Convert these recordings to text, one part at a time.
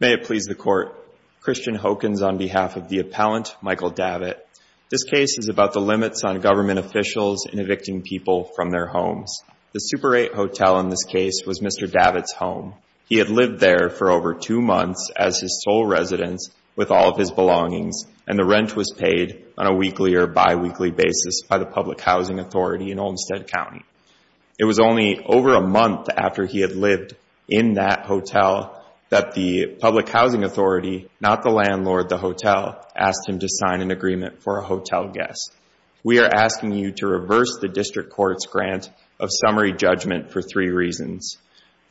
May it please the Court, Christian Hokens on behalf of the appellant, Michael Davitt. This case is about the limits on government officials in evicting people from their homes. The Super 8 hotel in this case was Mr. Davitt's home. He had lived there for over two months as his sole residence with all of his belongings, and the rent was paid on a weekly or biweekly basis by the Public Housing Authority in Olmstead County. It was only over a month after he had lived in that hotel that the Public Housing Authority, not the landlord, the hotel, asked him to sign an agreement for a hotel guest. We are asking you to reverse the District Court's grant of summary judgment for three reasons.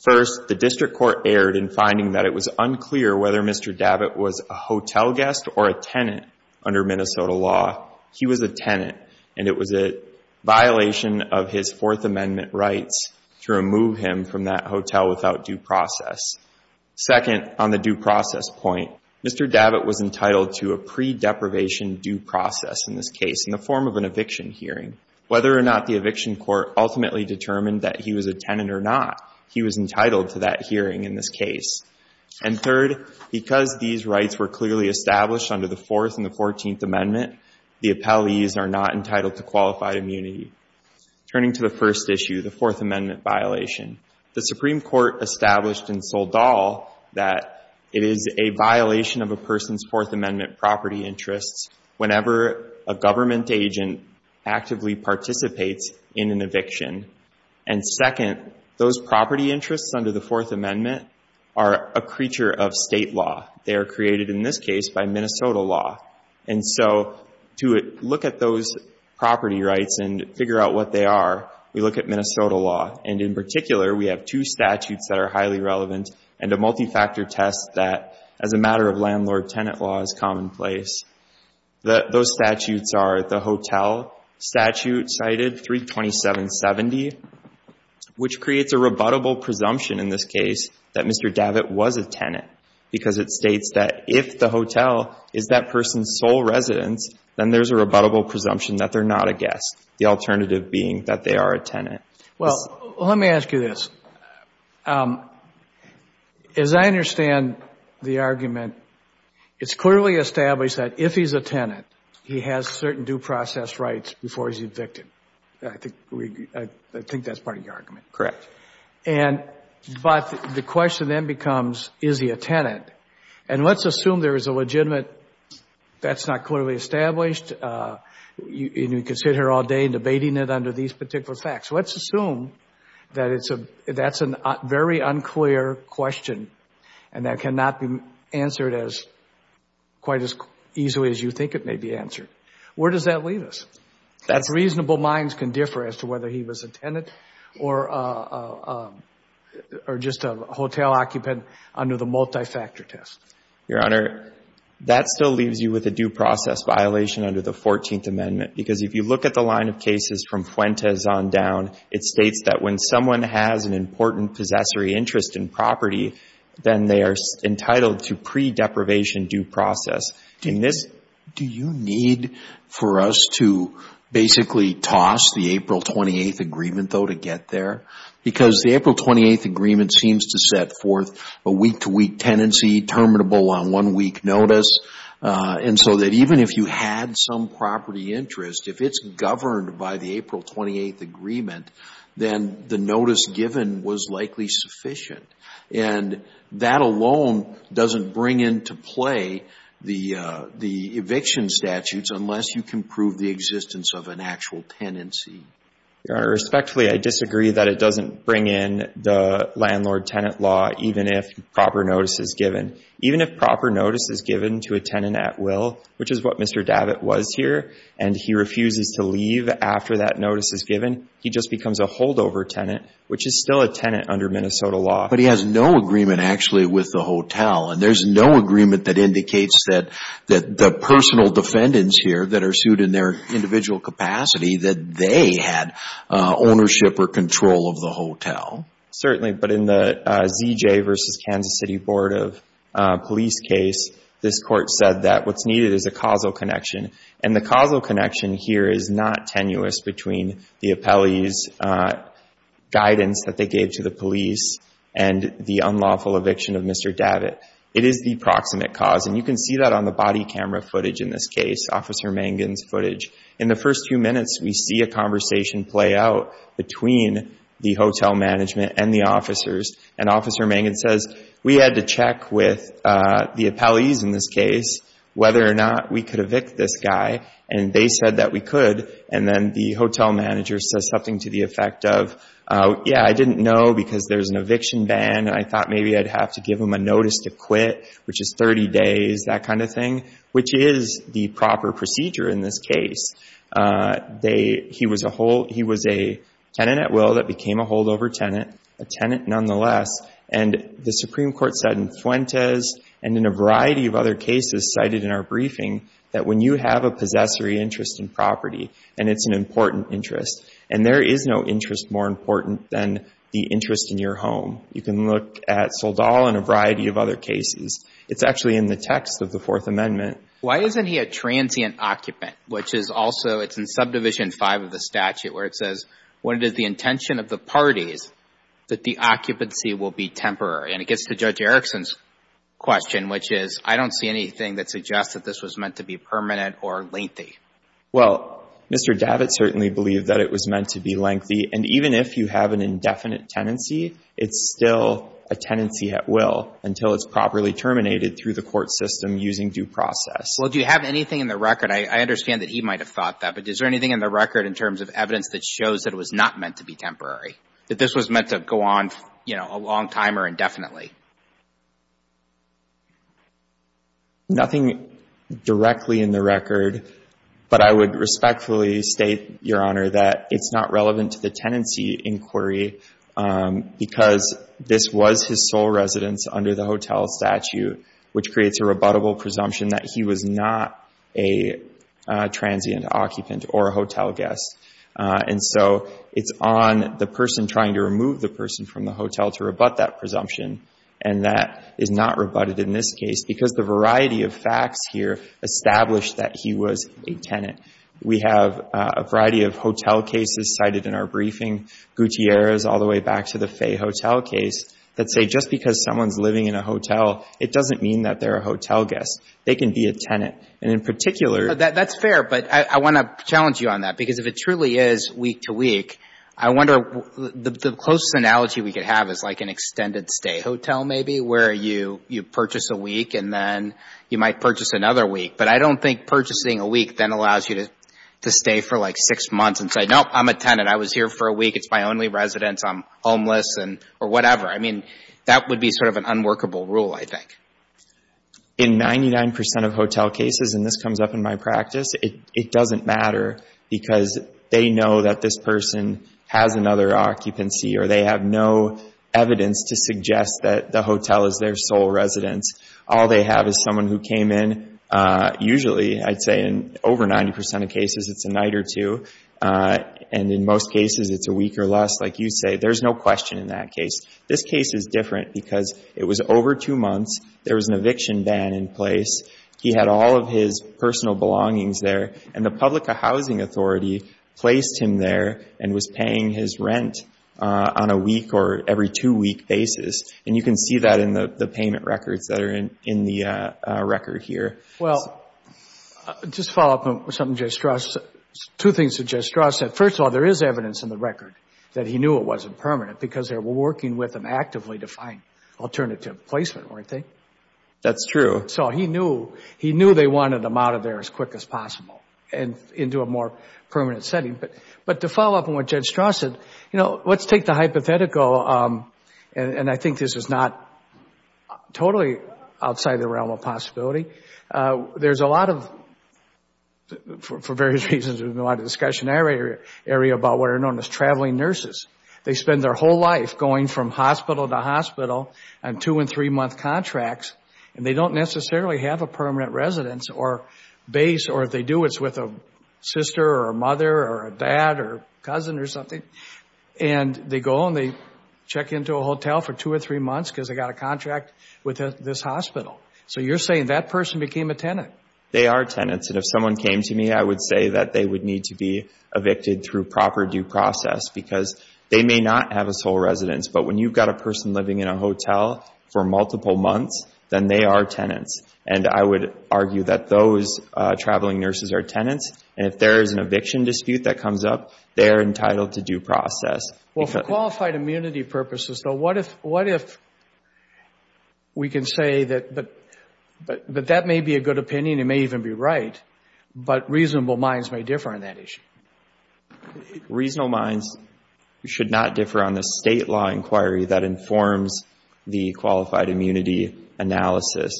First, the District Court erred in finding that it was unclear whether Mr. Davitt was a hotel guest or a tenant under Minnesota law. He was a tenant, and it was a violation of his Fourth Amendment rights to remove him from that hotel without due process. Second, on the due process point, Mr. Davitt was entitled to a pre-deprivation due process in this case. In the form of an eviction hearing, whether or not the eviction court ultimately determined that he was a tenant or not, he was entitled to that hearing in this case. And third, because these rights were clearly established under the Fourth and the Fourteenth Amendment, the appellees are not entitled to qualified immunity. Turning to the first issue, the Fourth Amendment violation, the Supreme Court established in Soledad that it is a violation of a person's Fourth Amendment property interests whenever a government agent actively participates in an eviction. And second, those property interests under the Fourth Amendment are a creature of state law. They are created in this case by Minnesota law. And so to look at those property rights and figure out what they are, we look at Minnesota law. And in particular, we have two statutes that are highly relevant and a multi-factor test that, as a matter of landlord-tenant law, is commonplace. Those statutes are the hotel statute cited, 32770, which creates a rebuttable presumption in this case that Mr. Davitt was a tenant, because it states that if the hotel is that person's sole residence, then there's a rebuttable presumption that they're not a guest, the alternative being that they are a tenant. Well, let me ask you this. As I understand the argument, it's clearly established that if he's a tenant, he has certain due process rights before he's evicted. I think that's part of the argument. Correct. And but the question then becomes, is he a tenant? And let's assume there is a legitimate, that's not clearly established, and you can sit here all day debating it under these particular facts. Let's assume that it's a, that's a very unclear question and that cannot be answered as, quite as easily as you think it may be answered. Where does that leave us? That's reasonable minds can differ as to whether he was a tenant or just a hotel occupant under the multi-factor test. Your Honor, that still leaves you with a due process violation under the 14th Amendment. Because if you look at the line of cases from Fuentes on down, it states that when someone has an important possessory interest in property, then they are entitled to pre-deprivation due process. Do you need for us to basically toss the April 28th agreement, though, to get there? Because the April 28th agreement seems to set forth a week-to-week tenancy, terminable on one week notice, and so that even if you had some property interest, if it's governed by the April 28th agreement, then the notice given was likely sufficient. And that alone doesn't bring into play the eviction statutes unless you can prove the existence of an actual tenancy. Your Honor, respectfully, I disagree that it doesn't bring in the landlord-tenant law even if proper notice is given. Even if proper notice is given to a tenant at will, which is what Mr. Davitt was here, and he refuses to leave after that notice is given, he just becomes a holdover tenant, which is still a tenant under Minnesota law. But he has no agreement, actually, with the hotel, and there's no agreement that indicates that the personal defendants here that are sued in their individual capacity, that they had ownership or control of the hotel. Certainly, but in the ZJ v. Kansas City Board of Police case, this Court said that what's needed is a causal connection, and the causal connection here is not tenuous between the appellee's guidance that they gave to the police and the unlawful eviction of Mr. Davitt. It is the proximate cause, and you can see that on the body camera footage in this case, Officer Mangan's footage. In the first few minutes, we see a conversation play out between the hotel management and the officers, and Officer Mangan says, we had to check with the appellees in this case whether or not we could evict this guy, and they said that we could. And then the hotel manager says something to the effect of, yeah, I didn't know because there's an eviction ban, and I thought maybe I'd have to give him a notice to quit, which is 30 days, that kind of thing, which is the proper procedure in this case. He was a tenant at will that became a holdover tenant, a tenant nonetheless, and the Supreme Court said in Fuentes and in a variety of other cases cited in our briefing that when you have a possessory interest in property, and it's an important interest, and there is no interest more important than the interest in your home. You can look at Soldal and a variety of other cases. It's actually in the text of the Fourth Amendment. Why isn't he a transient occupant, which is also, it's in Subdivision 5 of the statute, where it says, what is the intention of the parties that the occupancy will be temporary? And it gets to Judge Erickson's question, which is, I don't see anything that suggests that this was meant to be permanent or lengthy. Well, Mr. Davitt certainly believed that it was meant to be lengthy, and even if you have an indefinite tenancy, it's still a tenancy at will until it's properly terminated through the court system using due process. Well, do you have anything in the record? I understand that he might have thought that, but is there anything in the record in terms of evidence that shows that it was not meant to be temporary, that this was meant to go on, you know, a long time or indefinitely? Nothing directly in the record, but I would respectfully state, Your Honor, that it's not relevant to the tenancy inquiry because this was his sole residence under the hotel statute, which creates a rebuttable presumption that he was not a transient occupant or a hotel guest. And so it's on the person trying to remove the person from the hotel to rebut that presumption, and that is not rebutted in this case because the variety of facts here establish that he was a tenant. We have a variety of hotel cases cited in our briefing, Gutierrez all the way back to the Fay Hotel case, that say just because someone's living in a hotel, it doesn't mean that they're a hotel guest. And in particular— That's fair, but I want to challenge you on that because if it truly is week-to-week, I wonder, the closest analogy we could have is like an extended stay hotel maybe where you purchase a week and then you might purchase another week. But I don't think purchasing a week then allows you to stay for like six months and say, Nope, I'm a tenant. I was here for a week. It's my only residence. I'm homeless or whatever. I mean, that would be sort of an unworkable rule, I think. In 99% of hotel cases, and this comes up in my practice, it doesn't matter because they know that this person has another occupancy or they have no evidence to suggest that the hotel is their sole residence. All they have is someone who came in. Usually, I'd say in over 90% of cases, it's a night or two, and in most cases, it's a week or less. Like you say, there's no question in that case. This case is different because it was over two months. There was an eviction ban in place. He had all of his personal belongings there, and the public housing authority placed him there and was paying his rent on a week or every two-week basis. And you can see that in the payment records that are in the record here. Well, just to follow up on something Judge Strauss said, two things that Judge Strauss said. First of all, there is evidence in the record that he knew it wasn't permanent because they were working with him actively to find alternative placement, weren't they? That's true. So he knew they wanted him out of there as quick as possible and into a more permanent setting. But to follow up on what Judge Strauss said, you know, let's take the hypothetical, and I think this is not totally outside the realm of possibility. There's a lot of, for various reasons, there's a lot of discussion in our area about what are known as traveling nurses. They spend their whole life going from hospital to hospital on two- and three-month contracts, and they don't necessarily have a permanent residence or base, or if they do, it's with a sister or a mother or a dad or a cousin or something. And they go and they check into a hotel for two or three months because they got a contract with this hospital. So you're saying that person became a tenant. They are tenants, and if someone came to me, I would say that they would need to be evicted through proper due process because they may not have a sole residence. But when you've got a person living in a hotel for multiple months, then they are tenants. And I would argue that those traveling nurses are tenants, and if there is an eviction dispute that comes up, they are entitled to due process. Well, for qualified immunity purposes, though, what if we can say that that may be a good opinion, it may even be right, but reasonable minds may differ on that issue? Reasonable minds should not differ on the state law inquiry that informs the qualified immunity analysis.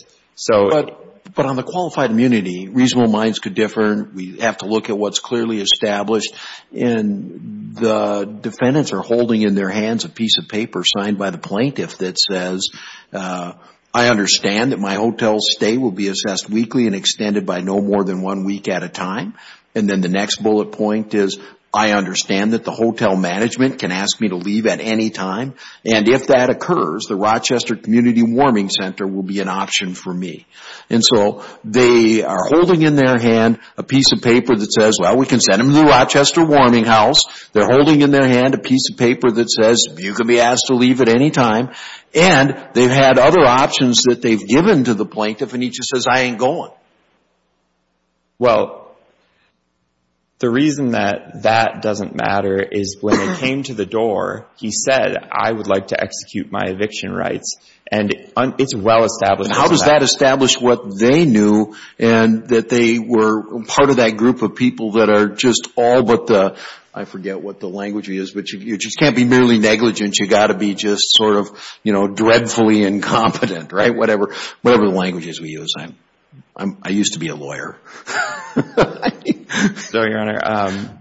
But on the qualified immunity, reasonable minds could differ. We have to look at what's clearly established, and the defendants are holding in their hands a piece of paper signed by the plaintiff that says, I understand that my hotel stay will be assessed weekly and extended by no more than one week at a time. And then the next bullet point is, I understand that the hotel management can ask me to leave at any time. And if that occurs, the Rochester Community Warming Center will be an option for me. And so they are holding in their hand a piece of paper that says, well, we can send them to the Rochester Warming House. They're holding in their hand a piece of paper that says, you can be asked to leave at any time. And they've had other options that they've given to the plaintiff, and he just says, I ain't going. Well, the reason that that doesn't matter is when it came to the door, he said, I would like to execute my eviction rights. And it's well established. How does that establish what they knew and that they were part of that group of people that are just all but the, I forget what the language is, but you just can't be merely negligent. You've got to be just sort of, you know, dreadfully incompetent, right, whatever the language is we use. I used to be a lawyer. So, Your Honor,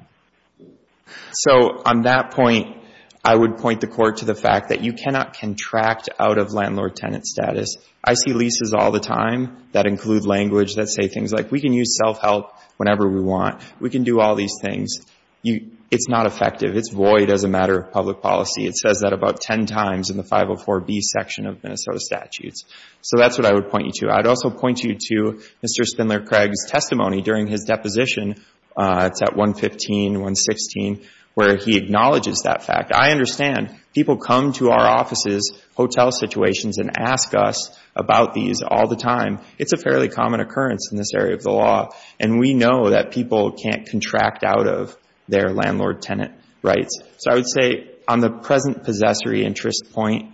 so on that point, I would point the court to the fact that you cannot contract out of landlord-tenant status. I see leases all the time that include language that say things like, we can use self-help whenever we want. We can do all these things. It's not effective. It's void as a matter of public policy. It says that about ten times in the 504B section of Minnesota statutes. So that's what I would point you to. I'd also point you to Mr. Spindler-Craig's testimony during his deposition. It's at 115, 116, where he acknowledges that fact. I understand. People come to our offices, hotel situations, and ask us about these all the time. It's a fairly common occurrence in this area of the law. And we know that people can't contract out of their landlord-tenant rights. So I would say on the present possessory interest point,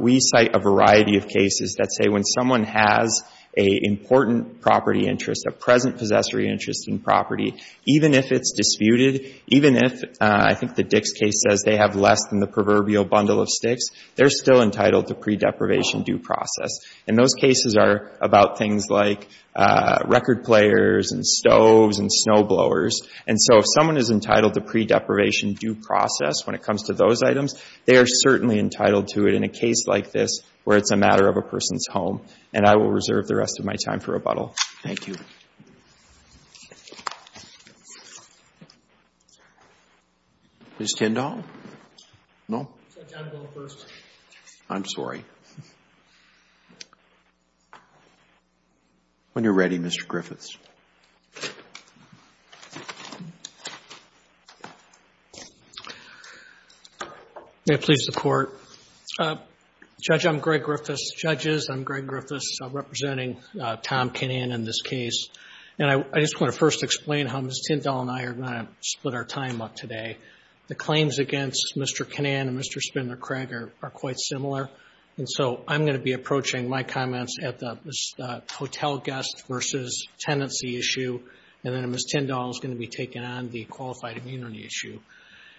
we cite a variety of cases that say when someone has an important property interest, a present possessory interest in property, even if it's disputed, even if, I think the Dix case says they have less than the proverbial bundle of sticks, they're still entitled to pre-deprivation due process. And those cases are about things like record players and stoves and snowblowers. And so if someone is entitled to pre-deprivation due process when it comes to those items, they are certainly entitled to it in a case like this where it's a matter of a person's home. And I will reserve the rest of my time for rebuttal. Thank you. Ms. Kendall? No? I'm sorry. When you're ready, Mr. Griffiths. May it please the Court. Judge, I'm Greg Griffiths. Judges, I'm Greg Griffiths representing Tom Kinnan in this case. And I just want to first explain how Ms. Kendall and I are going to split our time up today. The claims against Mr. Kinnan and Mr. Spindler-Cragg are quite similar. And so I'm going to be approaching my comments at the hotel guest versus tenancy issue, and then Ms. Kendall is going to be taking on the qualified immunity issue.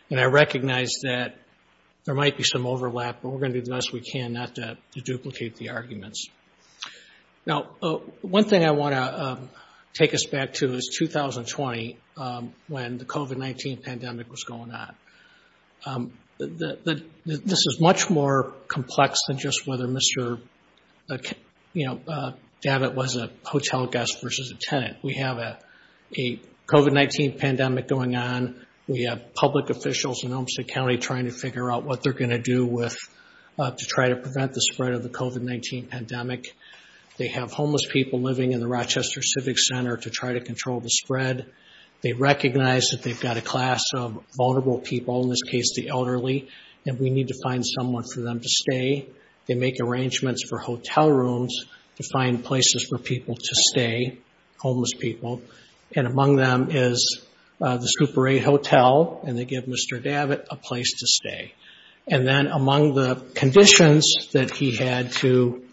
And I recognize that there might be some overlap, but we're going to do the best we can not to duplicate the arguments. Now, one thing I want to take us back to is 2020 when the COVID-19 pandemic was going on. This is much more complex than just whether Mr. Davitt was a hotel guest versus a tenant. We have a COVID-19 pandemic going on. We have public officials in Olmstead County trying to figure out what they're going to do to try to prevent the spread of the COVID-19 pandemic. They have homeless people living in the Rochester Civic Center to try to control the spread. They recognize that they've got a class of vulnerable people, in this case the elderly, and we need to find someone for them to stay. They make arrangements for hotel rooms to find places for people to stay, homeless people. And among them is the Super 8 Hotel, and they give Mr. Davitt a place to stay. And then among the conditions that he had to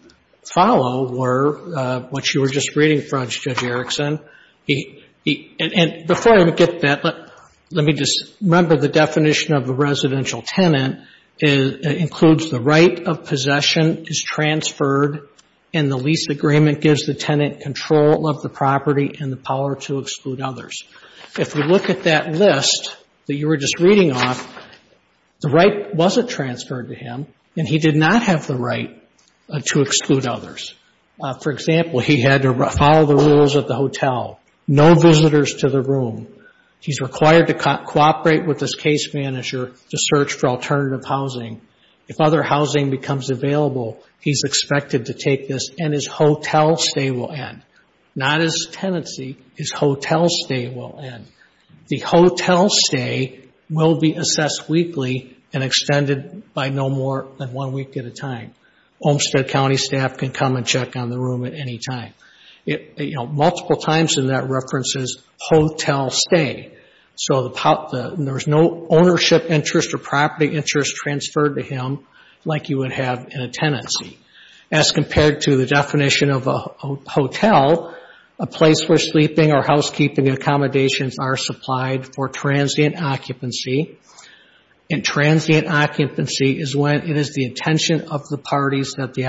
follow were what you were just reading from, Judge Erickson. And before I get that, let me just remember the definition of a residential tenant. It includes the right of possession is transferred, and the lease agreement gives the tenant control of the property and the power to exclude others. If we look at that list that you were just reading off, the right wasn't transferred to him, and he did not have the right to exclude others. For example, he had to follow the rules of the hotel, no visitors to the room. He's required to cooperate with his case manager to search for alternative housing. If other housing becomes available, he's expected to take this, and his hotel stay will end. Not his tenancy, his hotel stay will end. The hotel stay will be assessed weekly and extended by no more than one week at a time. Olmstead County staff can come and check on the room at any time. Multiple times in that reference is hotel stay. So there's no ownership interest or property interest transferred to him like you would have in a tenancy. As compared to the definition of a hotel, a place where sleeping or housekeeping accommodations are supplied for transient occupancy, and transient occupancy is when it is the intention of the parties that the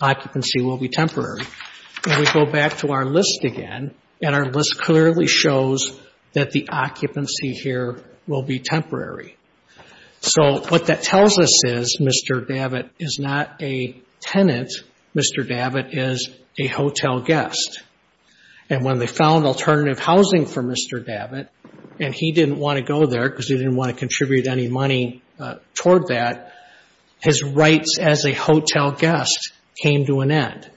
occupancy will be temporary. And we go back to our list again, and our list clearly shows that the occupancy here will be temporary. So what that tells us is Mr. Davitt is not a tenant. Mr. Davitt is a hotel guest. And when they found alternative housing for Mr. Davitt, and he didn't want to go there because he didn't want to contribute any money toward that, his rights as a hotel guest came to an end.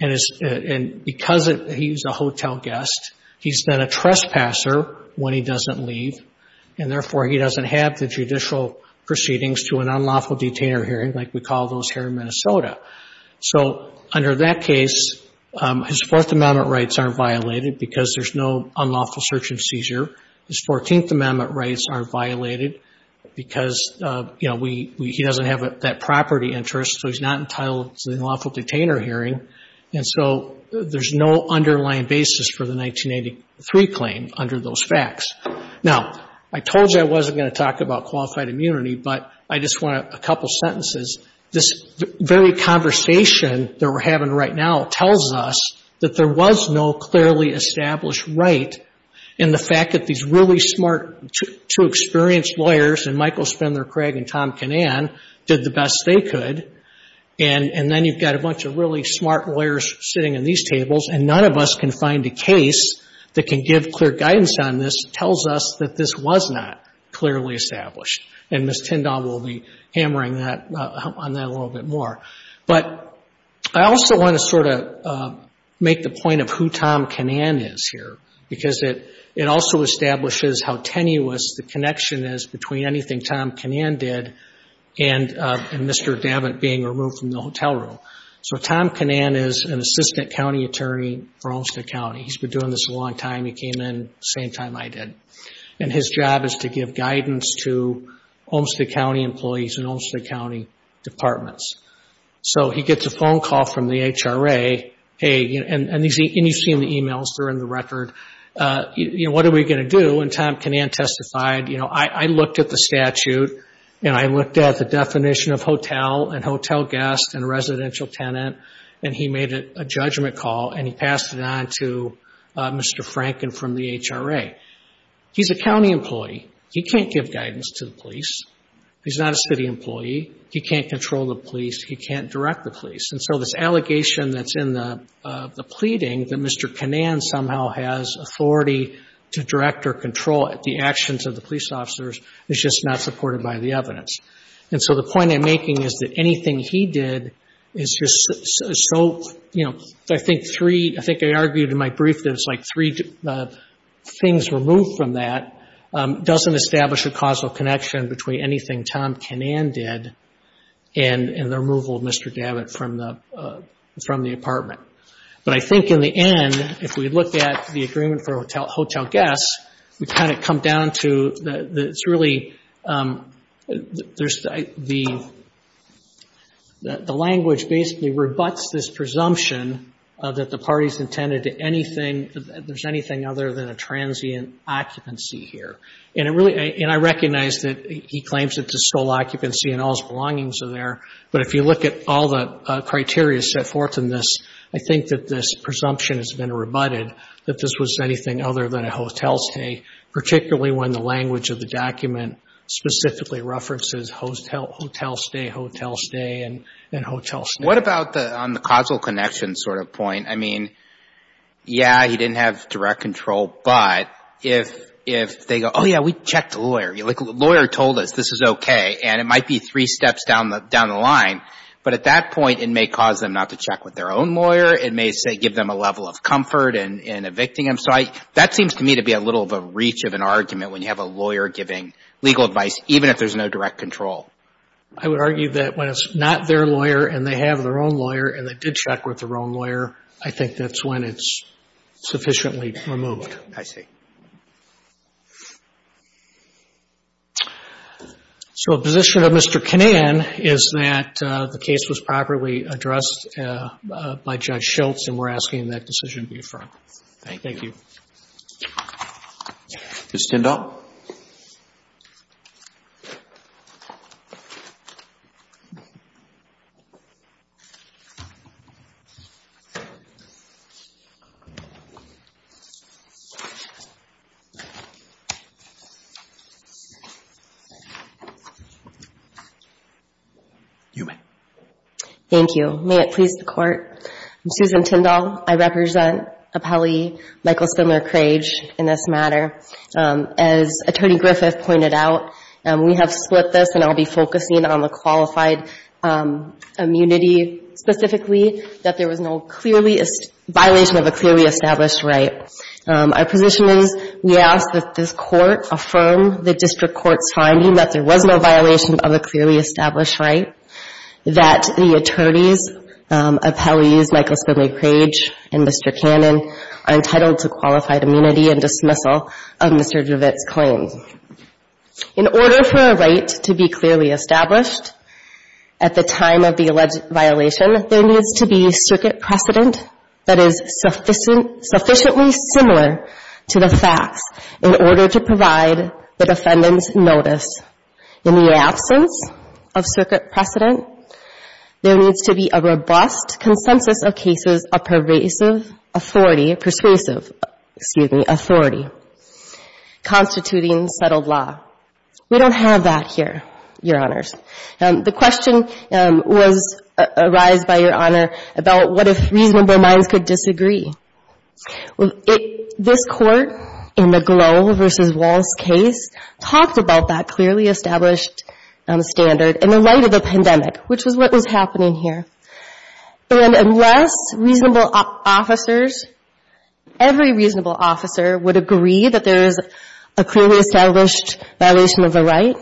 And because he's a hotel guest, he's then a trespasser when he doesn't leave, and therefore he doesn't have the judicial proceedings to an unlawful detainer hearing like we call those here in Minnesota. So under that case, his Fourth Amendment rights aren't violated because there's no unlawful search and seizure. His Fourteenth Amendment rights aren't violated because, you know, he doesn't have that property interest, so he's not entitled to the unlawful detainer hearing. And so there's no underlying basis for the 1983 claim under those facts. Now, I told you I wasn't going to talk about qualified immunity, but I just want a couple sentences. This very conversation that we're having right now tells us that there was no clearly established right in the fact that these really smart, true, experienced lawyers, and Michael Spindler Craig and Tom Kinnan, did the best they could. And then you've got a bunch of really smart lawyers sitting in these tables, and none of us can find a case that can give clear guidance on this that tells us that this was not clearly established. And Ms. Tindall will be hammering on that a little bit more. But I also want to sort of make the point of who Tom Kinnan is here, because it also establishes how tenuous the connection is between anything Tom Kinnan did and Mr. Davitt being removed from the hotel room. So Tom Kinnan is an assistant county attorney for Olmstead County. He's been doing this a long time. He came in the same time I did. And his job is to give guidance to Olmstead County employees and Olmstead County departments. So he gets a phone call from the HRA, and you see in the emails, they're in the record, you know, what are we going to do? And Tom Kinnan testified, you know, I looked at the statute, and I looked at the definition of hotel and hotel guest and residential tenant, and he made a judgment call, and he passed it on to Mr. Franken from the HRA. He's a county employee. He can't give guidance to the police. He's not a city employee. He can't control the police. He can't direct the police. And so this allegation that's in the pleading that Mr. Kinnan somehow has authority to direct or control the actions of the police officers is just not supported by the evidence. And so the point I'm making is that anything he did is just so, you know, I think three, I think I argued in my brief that it's like three things removed from that doesn't establish a causal connection between anything Tom Kinnan did and the removal of Mr. Gabbitt from the apartment. But I think in the end, if we look at the agreement for hotel guests, we kind of come down to that it's really the language basically rebuts this presumption that the parties intended to anything, there's anything other than a transient occupancy here. And I recognize that he claims it's a sole occupancy and all his belongings are there, but if you look at all the criteria set forth in this, I think that this presumption has been rebutted that this was anything other than a hotel stay, particularly when the language of the document specifically references hotel stay, hotel stay, and hotel stay. What about on the causal connection sort of point? I mean, yeah, he didn't have direct control, but if they go, oh, yeah, we checked the lawyer. The lawyer told us this is okay, and it might be three steps down the line, but at that point it may cause them not to check with their own lawyer. It may, say, give them a level of comfort in evicting him. So that seems to me to be a little of a reach of an argument when you have a lawyer giving legal advice, even if there's no direct control. I would argue that when it's not their lawyer and they have their own lawyer and they did check with their own lawyer, I think that's when it's sufficiently removed. I see. So a position of Mr. Kanan is that the case was properly addressed by Judge Schultz, and we're asking that decision be affirmed. Thank you. Thank you. Ms. Tindall? You may. Thank you. May it please the Court. I'm Susan Tindall. I represent appellee Michael Spindler-Crage in this matter. As Attorney Griffith pointed out, we have split this, and I'll be focusing on the qualified immunity specifically, that there was no clearly — violation of a clearly established right. I think it's important for us to be clear about that. Our position is we ask that this Court affirm the district court's finding that there was no violation of a clearly established right, that the attorneys, appellees Michael Spindler-Crage and Mr. Kanan are entitled to qualified immunity and dismissal of Mr. Griffith's claims. In order for a right to be clearly established at the time of the alleged violation, there needs to be circuit precedent that is sufficiently similar to the facts in order to provide the defendant's notice. In the absence of circuit precedent, there needs to be a robust consensus of cases of persuasive authority constituting settled law. We don't have that here, Your Honors. The question was — arised by Your Honor about what if reasonable minds could disagree. This Court, in the Glow v. Walls case, talked about that clearly established standard in the light of the pandemic, which was what was happening here. And unless reasonable officers — every reasonable officer would agree that there is a clearly established right.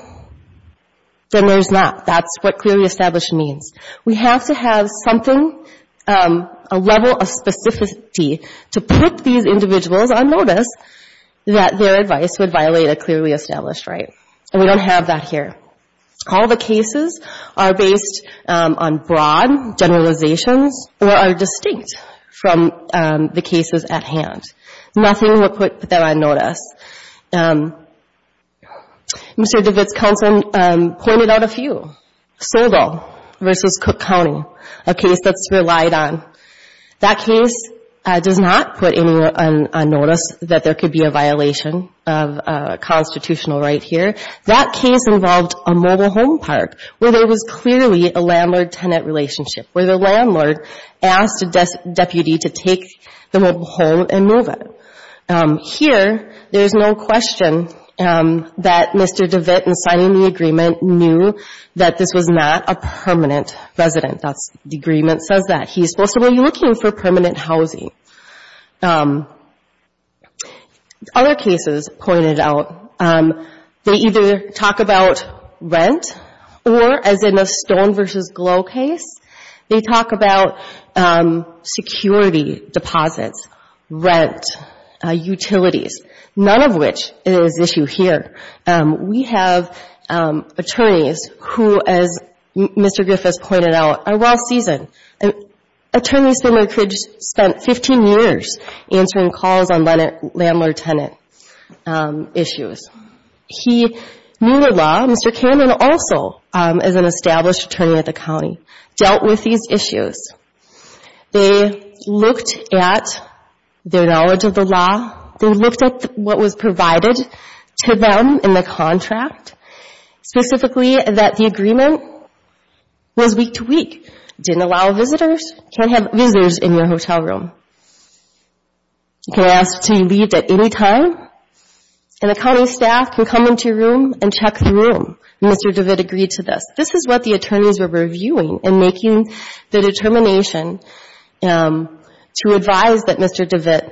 There's not. That's what clearly established means. We have to have something — a level of specificity to put these individuals on notice that their advice would violate a clearly established right. And we don't have that here. All the cases are based on broad generalizations or are distinct from the cases at hand. Nothing will put them on notice. Mr. DeWitt's counsel pointed out a few. Sobel v. Cook County, a case that's relied on. That case does not put anyone on notice that there could be a violation of constitutional right here. That case involved a mobile home park where there was clearly a landlord-tenant relationship, where the landlord asked a deputy to take the mobile home and move it. Here, there's no question that Mr. DeWitt, in signing the agreement, knew that this was not a permanent resident. The agreement says that. He's supposed to be looking for permanent housing. Other cases pointed out they either talk about rent or, as in the Stone v. Glow case, they talk about security deposits, rent, utilities, none of which is an issue here. We have attorneys who, as Mr. Griffiths pointed out, are well-seasoned. Attorneys spent 15 years answering calls on landlord-tenant issues. He knew the law, Mr. Cameron also, as an established attorney at the county. Dealt with these issues. They looked at their knowledge of the law. They looked at what was provided to them in the contract, specifically that the agreement was week-to-week. Didn't allow visitors. Can't have visitors in your hotel room. You can ask to be leaved at any time. And the county staff can come into your room and check the room. Mr. DeWitt agreed to this. This is what the attorneys were reviewing and making the determination to advise that Mr. DeWitt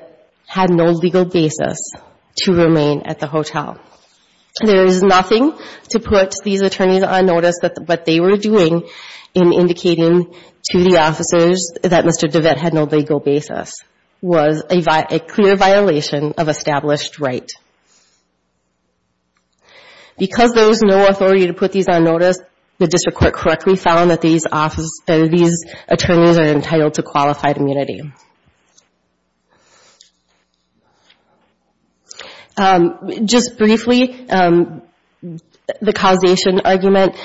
had no legal basis to remain at the hotel. There is nothing to put these attorneys on notice that what they were doing in indicating to the officers that Mr. DeWitt had no legal basis was a clear violation of established right. Because there was no authority to put these on notice, the district court correctly found that these attorneys are entitled to qualified immunity. Just briefly, the causation argument.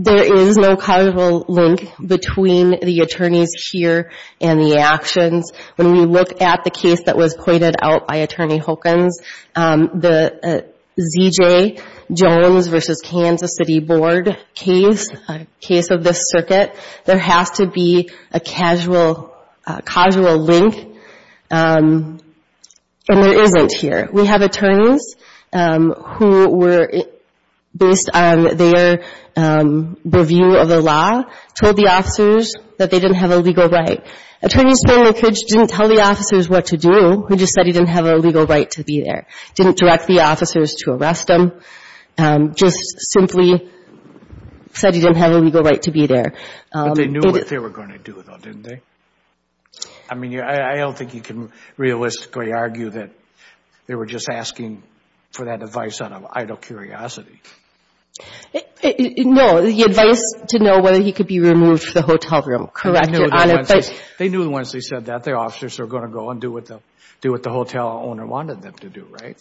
There is no causal link between the attorneys here and the actions. When we look at the case that was pointed out by Attorney Hawkins, the Z.J. Jones v. Kansas City Board case, a case of this circuit, there has to be a causal link, and there isn't here. We have attorneys who were, based on their review of the law, told the officers that they didn't have a legal right. Attorneys told the kids didn't tell the officers what to do. They just said he didn't have a legal right to be there. Didn't direct the officers to arrest him. Just simply said he didn't have a legal right to be there. But they knew what they were going to do, though, didn't they? I mean, I don't think you can realistically argue that they were just asking for that advice out of idle curiosity. No. The advice to know whether he could be removed from the hotel room. Correct, Your Honor. They knew once they said that, the officers were going to go and do what the hotel owner wanted them to do, right?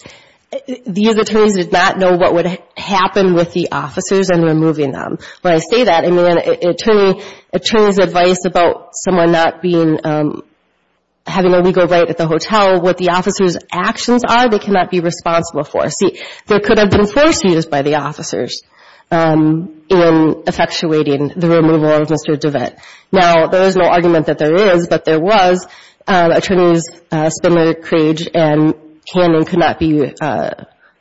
These attorneys did not know what would happen with the officers in removing them. When I say that, I mean an attorney's advice about someone not having a legal right at the hotel, what the officers' actions are, they cannot be responsible for. See, there could have been force used by the officers in effectuating the removal of Mr. DeVette. Now, there is no argument that there is, but there was. Attorneys Spindler, Crage, and Cannon could not be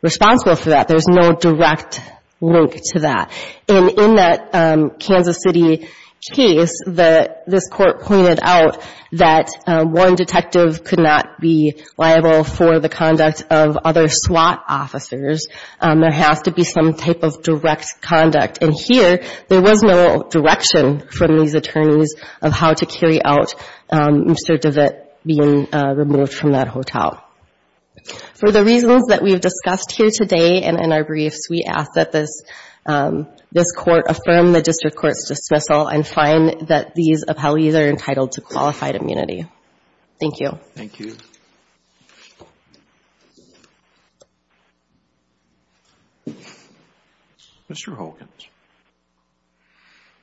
responsible for that. There's no direct link to that. And in that Kansas City case, this Court pointed out that one detective could not be liable for the conduct of other SWAT officers. There has to be some type of direct conduct. And here, there was no direction from these attorneys of how to carry out Mr. DeVette being removed from that hotel. For the reasons that we have discussed here today and in our briefs, we ask that this Court affirm the district court's dismissal and find that these appellees are entitled to qualified immunity. Thank you. Thank you. Thank you. Mr. Hogan.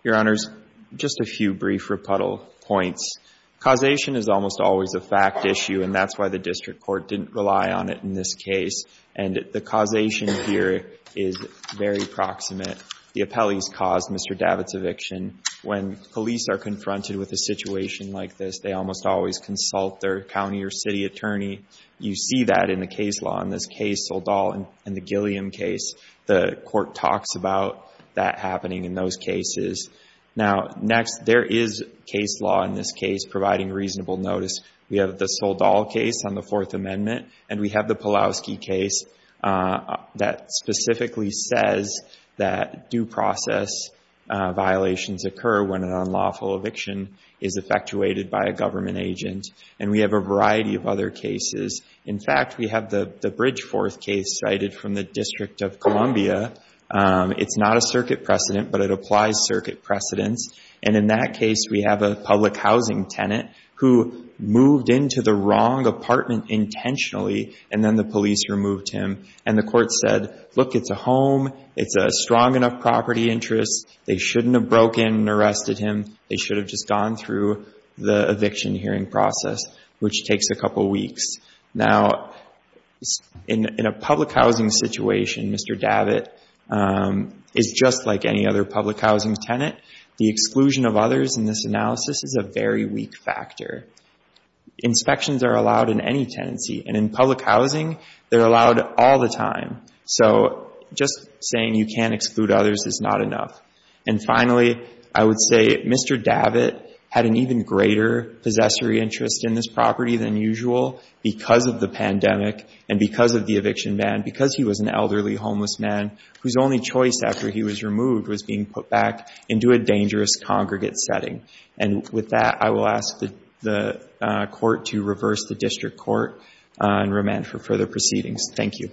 Your Honors, just a few brief rebuttal points. Causation is almost always a fact issue, and that's why the district court didn't rely on it in this case. And the causation here is very proximate. When police are confronted with a situation like this, they almost always consult their county or city attorney. You see that in the case law in this case, Soldal and the Gilliam case. The Court talks about that happening in those cases. Now, next, there is case law in this case providing reasonable notice. We have the Soldal case on the Fourth Amendment, and we have the Pawlowski case that specifically says that due process violations occur when an unlawful eviction is effectuated by a government agent. And we have a variety of other cases. In fact, we have the Bridgeforth case cited from the District of Columbia. It's not a circuit precedent, but it applies circuit precedents. And in that case, we have a public housing tenant who moved into the wrong apartment intentionally, and then the police removed him. And the court said, look, it's a home. It's a strong enough property interest. They shouldn't have broken and arrested him. They should have just gone through the eviction hearing process, which takes a couple weeks. Now, in a public housing situation, Mr. Davitt is just like any other public housing tenant. The exclusion of others in this analysis is a very weak factor. Inspections are allowed in any tenancy, and in public housing, they're allowed all the time. So just saying you can't exclude others is not enough. And finally, I would say Mr. Davitt had an even greater possessory interest in this property than usual because of the pandemic and because of the eviction ban, because he was an elderly homeless man whose only choice after he was removed was being put back into a dangerous congregate setting. And with that, I will ask the court to reverse the district court and remand for further proceedings. Thank you.